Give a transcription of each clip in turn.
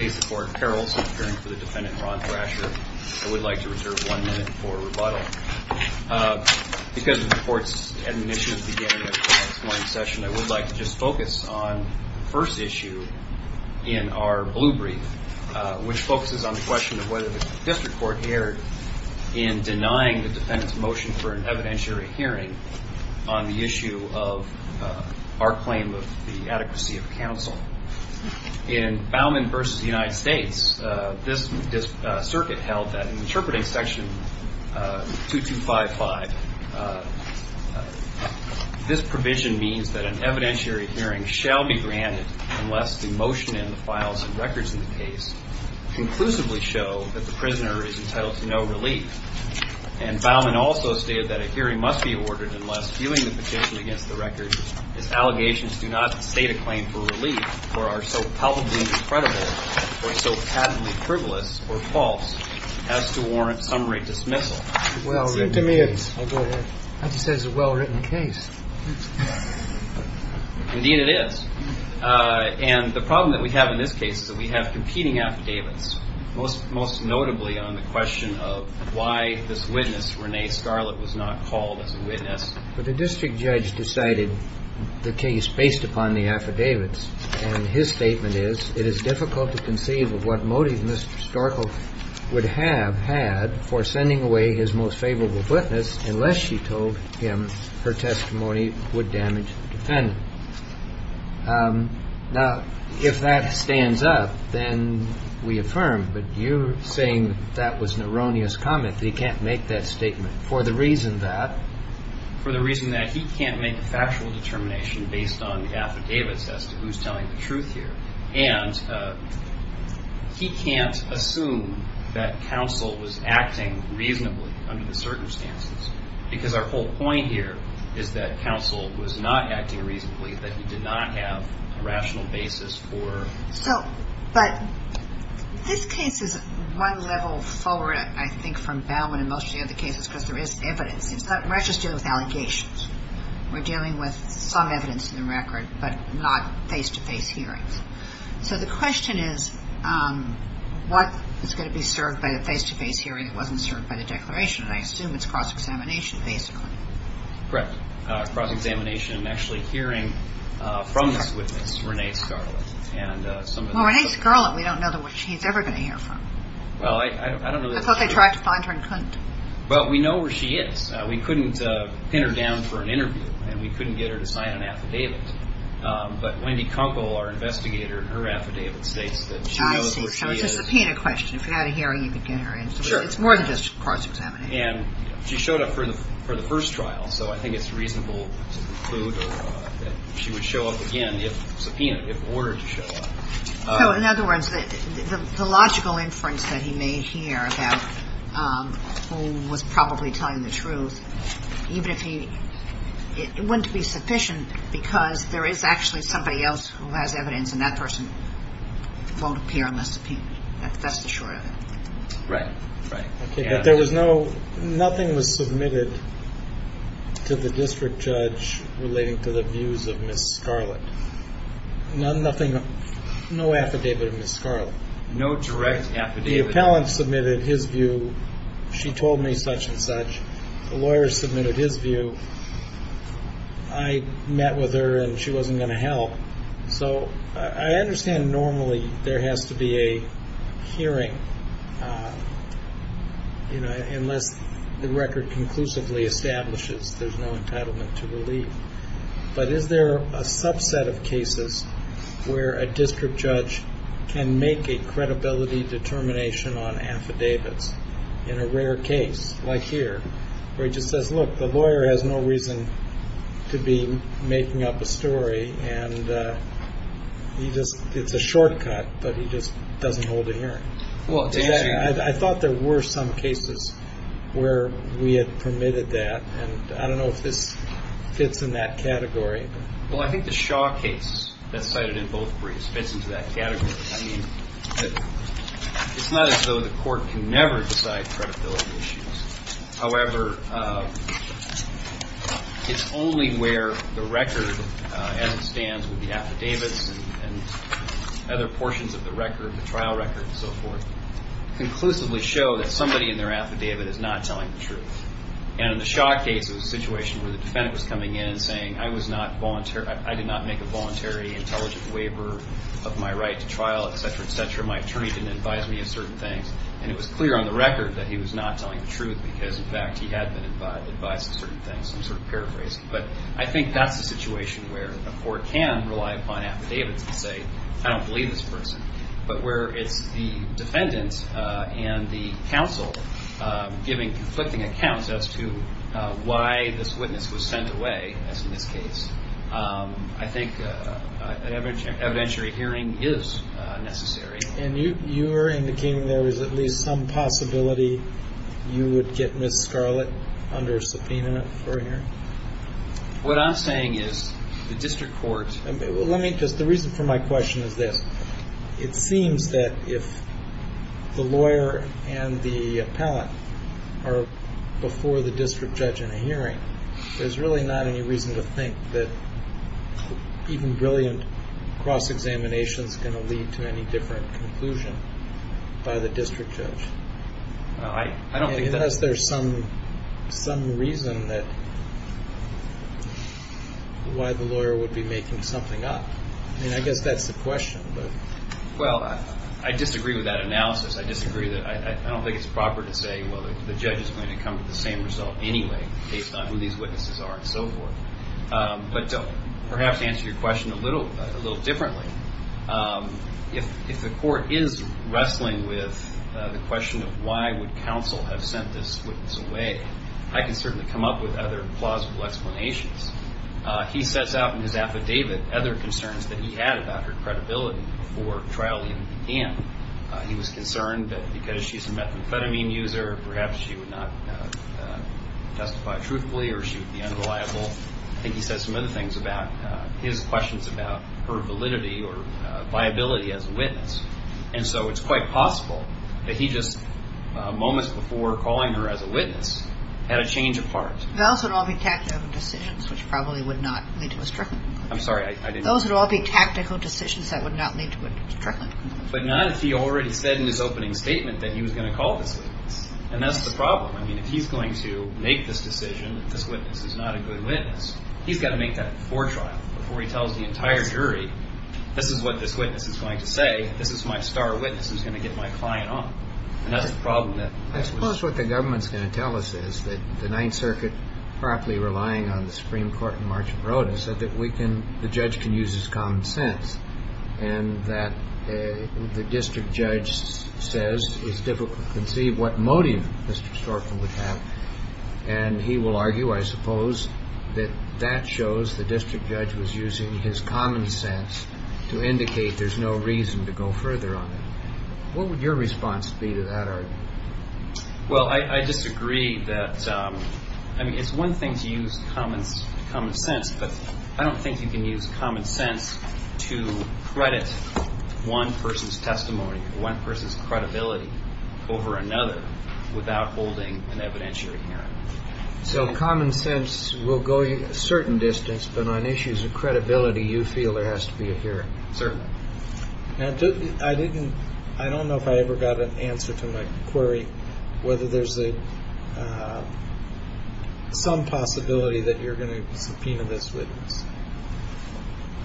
I would like to reserve one minute for rebuttal. Because of the court's admonition at the beginning of this morning's session, I would like to just focus on the first issue in our blue brief, which focuses on the question of whether the district court erred in denying the defendant's motion for an evidentiary hearing on the issue of our claim of the adequacy of counsel. In Bauman v. United States, this circuit held that in interpreting section 2255, this provision means that an evidentiary hearing shall be granted unless the motion in the files and records in the case conclusively show that the prisoner is entitled to no relief. And Bauman also stated that a hearing must be awarded unless, viewing the petition against the records, its allegations do not state a claim for relief or are so palpably incredible or so patently frivolous or false as to warrant summary dismissal. Well, it seems to me it's a well-written case. Indeed it is. And the problem that we have in this case is that we have competing affidavits, most notably on the question of why this witness, Renee Scarlett, was not called as a witness. But the district judge decided the case based upon the affidavits. And his statement is, it is difficult to conceive of what motive Mr. Storko would have had for sending away his most favorable witness unless she told him her testimony would damage the defendant. Now, if that stands up, then we affirm. But you're saying that was an erroneous comment, that he can't make that statement. For the reason that? For the reason that he can't make a factual determination based on the affidavits as to who's telling the truth here. And he can't assume that counsel was acting reasonably under the circumstances. Because our whole point here is that counsel was not acting reasonably, that he did not have a rational basis for... But this case is one level forward, I think, from Bell and most of the other cases, because there is evidence. We're not just dealing with allegations. We're dealing with some evidence in the record, but not face-to-face hearings. So the question is, what is going to be served by the face-to-face hearing that wasn't served by the declaration? And I assume it's cross-examination, basically. Correct. Cross-examination and actually hearing from this witness, Renee Scarlett. Well, Renee Scarlett, we don't know what she's ever going to hear from. Well, I don't really... I thought they tried to find her and couldn't. Well, we know where she is. We couldn't pin her down for an interview, and we couldn't get her to sign an affidavit. But Wendy Kunkel, our investigator, in her affidavit states that she knows where she is. I see. So it's just a peanut question. If you had a hearing, you could get her in. Sure. It's more than just cross-examination. And she showed up for the first trial, so I think it's reasonable to conclude that she would show up again if subpoenaed, if ordered to show up. So, in other words, the logical inference that he made here about who was probably telling the truth, even if he... it wouldn't be sufficient because there is actually somebody else who has evidence, and that person won't appear unless subpoenaed. That's the short of it. Right. Right. But there was no... nothing was submitted to the district judge relating to the views of Ms. Scarlett. Nothing... no affidavit of Ms. Scarlett. No direct affidavit. The appellant submitted his view. She told me such and such. The lawyer submitted his view. I met with her, and she wasn't going to help. So, I understand normally there has to be a hearing, you know, unless the record conclusively establishes there's no entitlement to relief. But is there a subset of cases where a district judge can make a credibility determination on affidavits in a rare case, like here, where he just says, look, the lawyer has no reason to be making up a story, and he just... it's a shortcut, but he just doesn't hold a hearing? I thought there were some cases where we had permitted that, and I don't know if this fits in that category. Well, I think the Shaw case that's cited in both briefs fits into that category. It's not as though the court can never decide credibility issues. However, it's only where the record, as it stands with the affidavits and other portions of the record, the trial record and so forth, conclusively show that somebody in their affidavit is not telling the truth. And in the Shaw case, it was a situation where the defendant was coming in and saying, I did not make a voluntary intelligent waiver of my right to trial, et cetera, et cetera. My attorney didn't advise me of certain things. And it was clear on the record that he was not telling the truth because, in fact, he had been advised of certain things. I'm sort of paraphrasing. But I think that's a situation where a court can rely upon affidavits to say, I don't believe this person, but where it's the defendant and the counsel giving conflicting accounts as to why this witness was sent away, as in this case. I think an evidentiary hearing is necessary. And you were indicating there was at least some possibility you would get Miss Scarlett under a subpoena for hearing? What I'm saying is the district court. The reason for my question is this. It seems that if the lawyer and the appellant are before the district judge in a hearing, there's really not any reason to think that even brilliant cross-examination is going to lead to any different conclusion by the district judge. I don't think that. Unless there's some reason that why the lawyer would be making something up. I mean, I guess that's the question. Well, I disagree with that analysis. I disagree. I don't think it's proper to say, well, the judge is going to come to the same result anyway based on who these witnesses are and so forth. But to perhaps answer your question a little differently, if the court is wrestling with the question of why would counsel have sent this witness away, I can certainly come up with other plausible explanations. He sets out in his affidavit other concerns that he had about her credibility before trial even began. He was concerned that because she's a methamphetamine user, perhaps she would not testify truthfully or she would be unreliable. I think he said some other things about his questions about her validity or viability as a witness. And so it's quite possible that he just, moments before calling her as a witness, had a change of heart. Those would all be tactical decisions, which probably would not lead to a stricken conclusion. I'm sorry. Those would all be tactical decisions that would not lead to a stricken conclusion. But not if he already said in his opening statement that he was going to call this witness. And that's the problem. I mean, if he's going to make this decision that this witness is not a good witness, he's got to make that before trial, before he tells the entire jury, this is what this witness is going to say, this is my star witness who's going to get my client on. And that's the problem that we're seeing. I suppose what the government's going to tell us is that the Ninth Circuit, partly relying on the Supreme Court in March and Roda, said that we can, the judge can use his common sense. And that the district judge says it's difficult to conceive what motive Mr. Storkin would have. And he will argue, I suppose, that that shows the district judge was using his common sense to indicate there's no reason to go further on it. What would your response be to that argument? Well, I disagree that, I mean, it's one thing to use common sense, but I don't think you can use common sense to credit one person's testimony or one person's credibility over another without holding an evidentiary hearing. So common sense will go a certain distance, but on issues of credibility you feel there has to be a hearing. Certainly. I don't know if I ever got an answer to my query whether there's some possibility that you're going to subpoena this witness.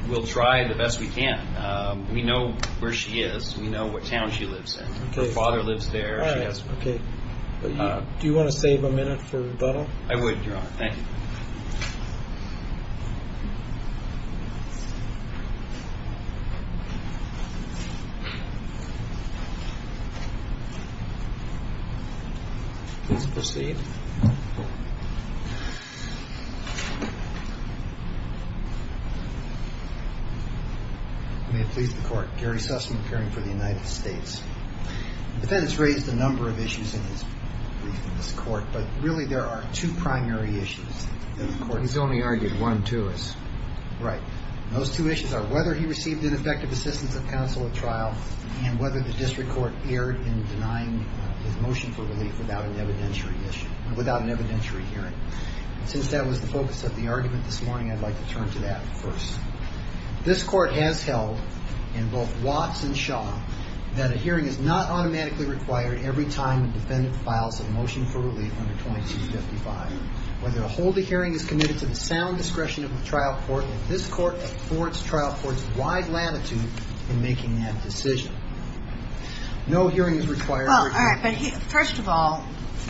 We'll try the best we can. We know where she is. We know what town she lives in. Her father lives there. All right, okay. Do you want to save a minute for rebuttal? I would, Your Honor. Thank you. Please proceed. May it please the Court. Gary Sussman, appearing for the United States. The defendant's raised a number of issues in his brief in this Court, but really there are two primary issues. He's only argued one, too. Right. Those two issues are whether he received ineffective assistance of counsel at trial and whether the district court erred in denying his motion for relief without an evidentiary hearing. Since that was the focus of the argument this morning, I'd like to turn to that first. This Court has held in both Watts and Shaw that a hearing is not automatically required every time a defendant files a motion for relief under 2255. Whether a holy hearing is committed to the sound discretion of the trial court, this Court affords trial courts wide latitude in making that decision. No hearing is required. Well, all right, but first of all,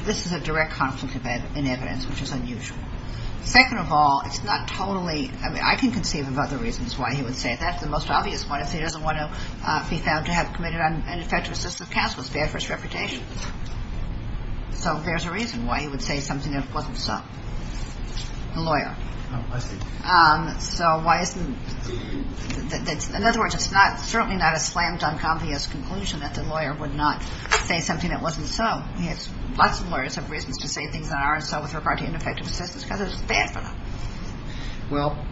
this is a direct conflict in evidence, which is unusual. Second of all, it's not totally – I mean, I can conceive of other reasons why he would say that. The most obvious one is he doesn't want to be found to have committed ineffective assistance of counsel. It's bad for his reputation. So there's a reason why he would say something that wasn't so. The lawyer. Oh, I see. So why isn't – in other words, it's certainly not a slammed, unconvinced conclusion that the lawyer would not say something that wasn't so. Lots of lawyers have reasons to say things that aren't so with regard to ineffective assistance because it's bad for them. Well,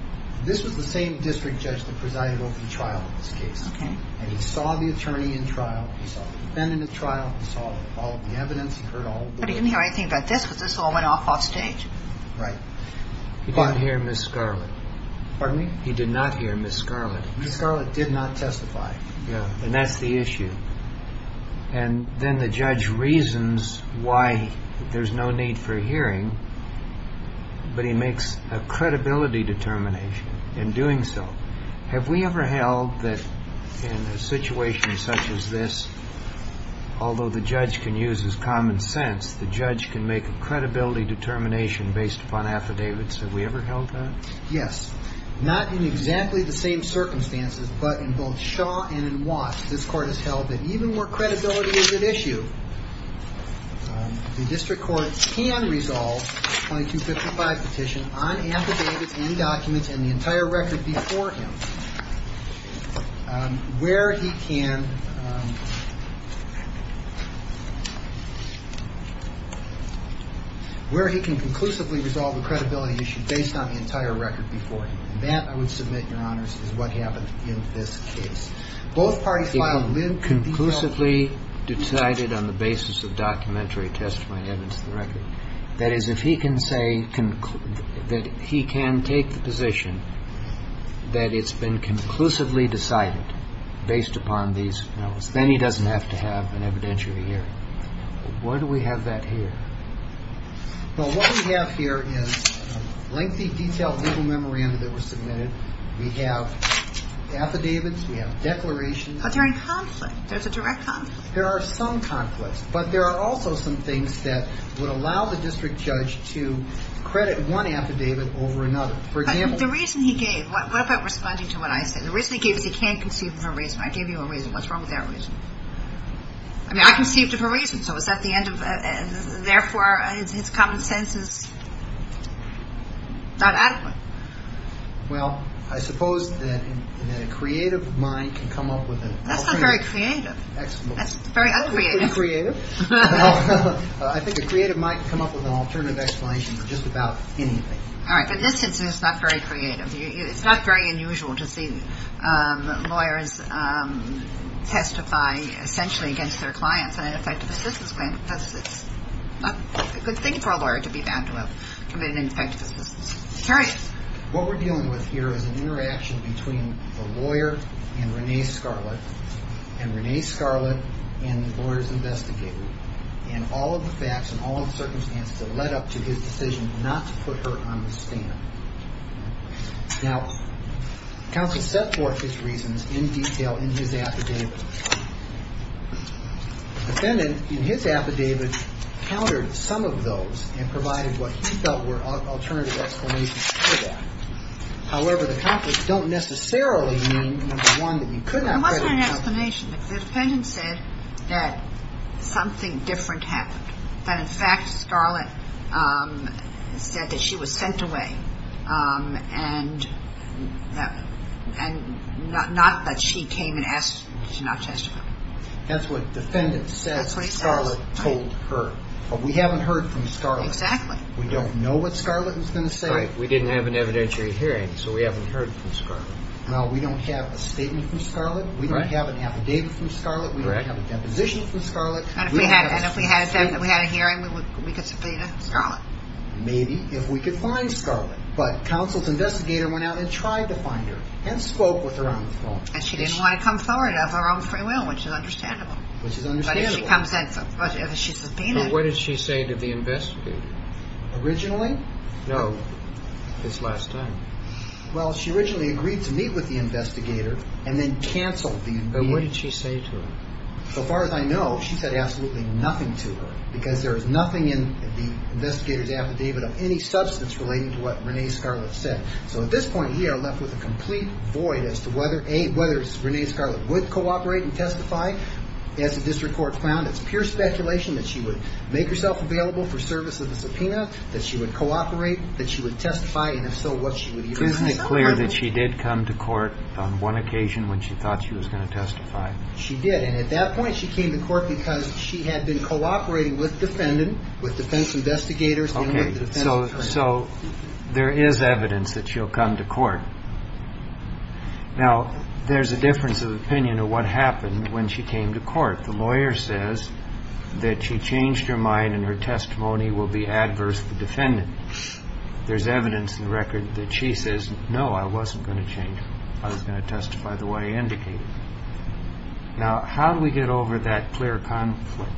this was the same district judge that presided over the trial in this case. Okay. And he saw the attorney in trial. He saw the defendant in trial. He saw all of the evidence. He heard all the – But he didn't hear anything about this because this all went off offstage. Right. He didn't hear Ms. Scarlett. Pardon me? He did not hear Ms. Scarlett. Ms. Scarlett did not testify. Yeah, and that's the issue. And then the judge reasons why there's no need for hearing, but he makes a credibility determination in doing so. Have we ever held that in a situation such as this, although the judge can use his common sense, the judge can make a credibility determination based upon affidavits? Have we ever held that? Yes. Not in exactly the same circumstances, but in both Shaw and in Watts, this Court has held that even where credibility is at issue, the district court can resolve a 2255 petition on affidavits and documents and the entire record before him where he can – where he can conclusively resolve a credibility issue based on the entire record before him. And that, I would submit, Your Honors, is what happened in this case. Both parties filed – If conclusively decided on the basis of documentary testimony evidence of the record, that is, if he can say that he can take the position that it's been conclusively decided based upon these notes, then he doesn't have to have an evidentiary hearing. Why do we have that here? Well, what we have here is lengthy, detailed legal memoranda that were submitted. We have affidavits. We have declarations. But they're in conflict. There's a direct conflict. There are some conflicts, but there are also some things that would allow the district judge to credit one affidavit over another. For example – But the reason he gave – What about responding to what I said? The reason he gave is he can't conceive of a reason. I gave you a reason. What's wrong with that reason? I mean, I conceived of a reason, so is that the end of – therefore, his common sense is not adequate. Well, I suppose that a creative mind can come up with an alternative. That's not very creative. That's very uncreative. I think a creative mind can come up with an alternative explanation for just about anything. All right. But in this instance, it's not very creative. It's not very unusual to see lawyers testify essentially against their clients on an effective assistance claim because it's not a good thing for a lawyer to be bound to have committed an ineffective assistance claim. I'm curious. What we're dealing with here is an interaction between the lawyer and Renee Scarlett, and the lawyer's investigator, and all of the facts and all of the circumstances that led up to his decision not to put her on the stand. Now, counsel set forth his reasons in detail in his affidavit. The defendant in his affidavit countered some of those and provided what he felt were alternative explanations for that. However, the conflicts don't necessarily mean, number one, that you could not credit her. It wasn't an explanation. The defendant said that something different happened, that in fact Scarlett said that she was sent away and not that she came and asked to not testify. That's what the defendant says Scarlett told her. But we haven't heard from Scarlett. We don't know what Scarlett was going to say. We didn't have an evidentiary hearing, so we haven't heard from Scarlett. Well, we don't have a statement from Scarlett. We don't have an affidavit from Scarlett. We don't have a deposition from Scarlett. And if we had a hearing, we could subpoena Scarlett. Maybe, if we could find Scarlett. But counsel's investigator went out and tried to find her and spoke with her on the phone. And she didn't want to come forward of her own free will, which is understandable. Which is understandable. But if she comes in, if she's subpoenaed. But what did she say to the investigator? Originally? No. This last time. Well, she originally agreed to meet with the investigator and then canceled the meeting. But what did she say to her? So far as I know, she said absolutely nothing to her. Because there is nothing in the investigator's affidavit of any substance relating to what Renee Scarlett said. So at this point, we are left with a complete void as to whether, A, whether Renee Scarlett would cooperate and testify. As the district court found, it's pure speculation that she would make herself available for service of the subpoena. That she would cooperate. That she would testify. And if so, what she would do. Isn't it clear that she did come to court on one occasion when she thought she was going to testify? She did. And at that point, she came to court because she had been cooperating with defendants, with defense investigators. Okay. So there is evidence that she'll come to court. Now, there's a difference of opinion of what happened when she came to court. The lawyer says that she changed her mind and her testimony will be adverse to defendants. There's evidence in the record that she says, no, I wasn't going to change it. I was going to testify the way I indicated. Now, how do we get over that clear conflict?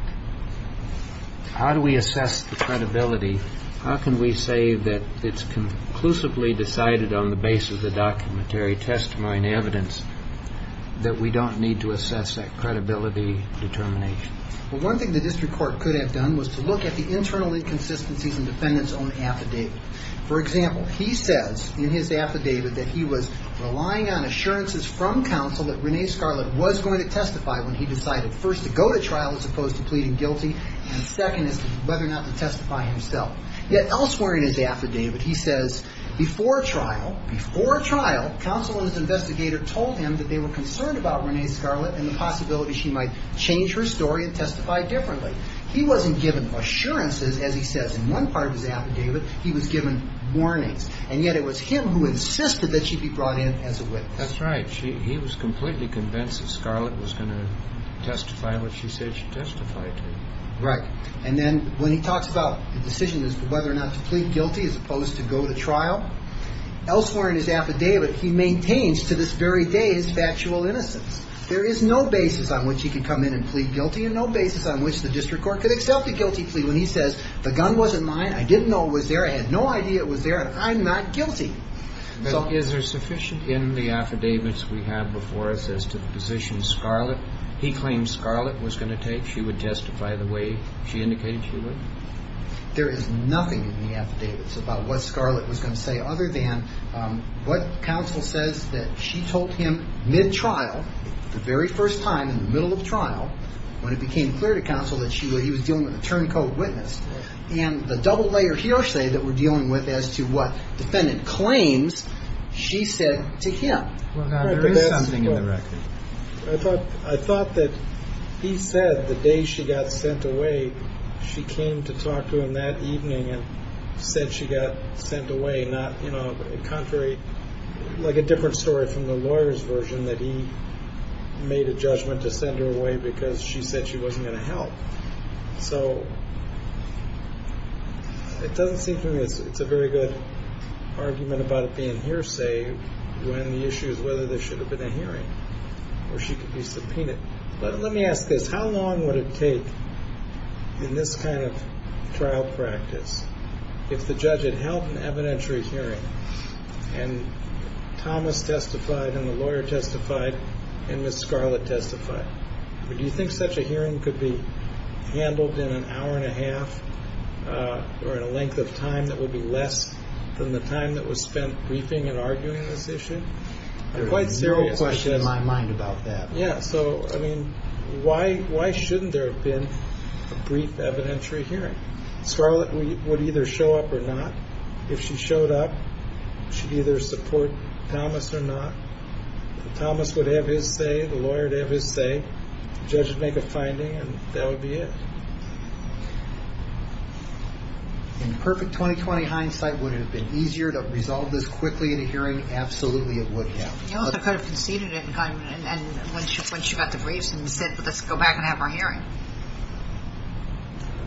How do we assess the credibility? How can we say that it's conclusively decided on the base of the documentary testimony and evidence that we don't need to assess that credibility determination? Well, one thing the district court could have done was to look at the internal inconsistencies in defendants' own affidavit. For example, he says in his affidavit that he was relying on assurances from counsel that Renee Scarlett was going to testify when he decided first to go to trial as opposed to pleading guilty, and second is whether or not to testify himself. Yet elsewhere in his affidavit, he says before trial, before trial, counsel and his investigator told him that they were concerned about Renee Scarlett and the possibility she might change her story and testify differently. He wasn't given assurances, as he says in one part of his affidavit. He was given warnings. And yet it was him who insisted that she be brought in as a witness. That's right. He was completely convinced that Scarlett was going to testify what she said she testified to. Right. And then when he talks about the decision as to whether or not to plead guilty as opposed to go to trial, elsewhere in his affidavit, he maintains to this very day his factual innocence. There is no basis on which he could come in and plead guilty and no basis on which the district court could accept a guilty plea when he says the gun wasn't mine, I didn't know it was there, I had no idea it was there, and I'm not guilty. Is there sufficient in the affidavits we have before us as to the position Scarlett, he claimed Scarlett was going to take, she would testify the way she indicated she would? There is nothing in the affidavits about what Scarlett was going to say other than what counsel says that she told him mid-trial, the very first time in the middle of trial, when it became clear to counsel that he was dealing with a turncoat witness, and the double layer hearsay that we're dealing with as to what defendant claims she said to him. Well, now, there is something in the record. I thought that he said the day she got sent away, she came to talk to him that evening and said she got sent away, contrary, like a different story from the lawyer's version, that he made a judgment to send her away because she said she wasn't going to help. So, it doesn't seem to me it's a very good argument about it being hearsay when the issue is whether there should have been a hearing or she could be subpoenaed. But let me ask this. How long would it take in this kind of trial practice if the judge had held an evidentiary hearing and Thomas testified and the lawyer testified and Ms. Scarlett testified? Do you think such a hearing could be handled in an hour and a half or in a length of time that would be less than the time that was spent briefing and arguing this issue? There's no question in my mind about that. Yeah, so, I mean, why shouldn't there have been a brief evidentiary hearing? Scarlett would either show up or not. If she showed up, she'd either support Thomas or not. If Thomas would have his say, the lawyer would have his say, the judge would make a finding, and that would be it. In perfect 2020 hindsight, would it have been easier to resolve this quickly in a hearing? Absolutely, it would have. You also could have conceded it when she got the briefs and said, let's go back and have our hearing.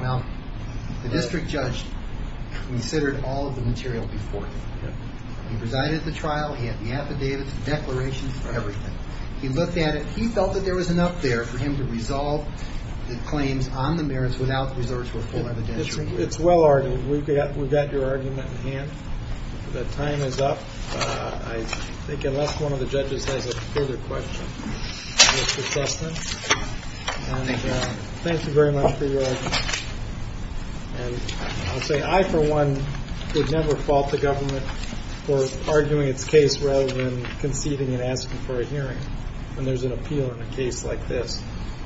Well, the district judge considered all of the material before him. He presided at the trial. He had the affidavits, the declarations, everything. He looked at it. He felt that there was enough there for him to resolve the claims on the merits without resorting to a full evidentiary hearing. It's well argued. We've got your argument in hand. The time is up. I think unless one of the judges has a further question. Mr. Sussman? Thank you. Thank you very much for your argument. And I'll say I, for one, would never fault the government for arguing its case rather than conceding and asking for a hearing when there's an appeal in a case like this.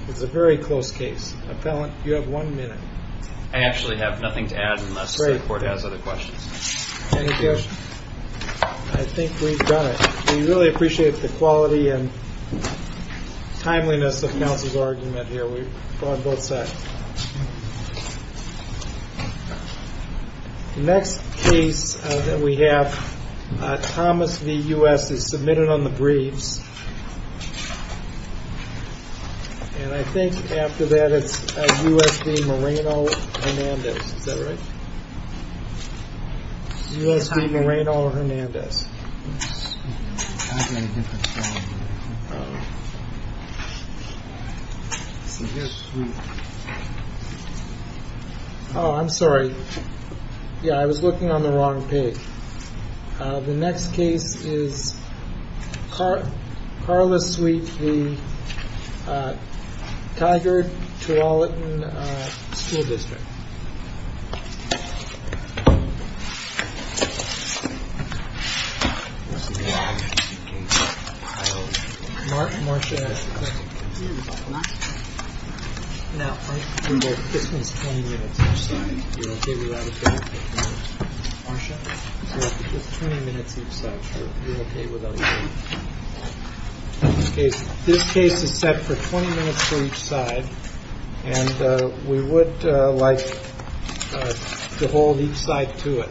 It's a very close case. Appellant, you have one minute. I actually have nothing to add unless the court has other questions. Any questions? I think we've done it. We really appreciate the quality and timeliness of counsel's argument here. We applaud both sides. The next case that we have, Thomas v. U.S., is submitted on the briefs. And I think after that it's U.S. v. Moreno-Hernandez. Is that right? U.S. v. Moreno-Hernandez. Oh, I'm sorry. Yeah, I was looking on the wrong page. The next case is Carla Sweet v. Tiger, Tualatin School District. Marsha has the question. Now, this one's 20 minutes. You're okay with that? Marsha? It's 20 minutes each side. You're okay with that? This case is set for 20 minutes for each side. And we would like to hold each side to it.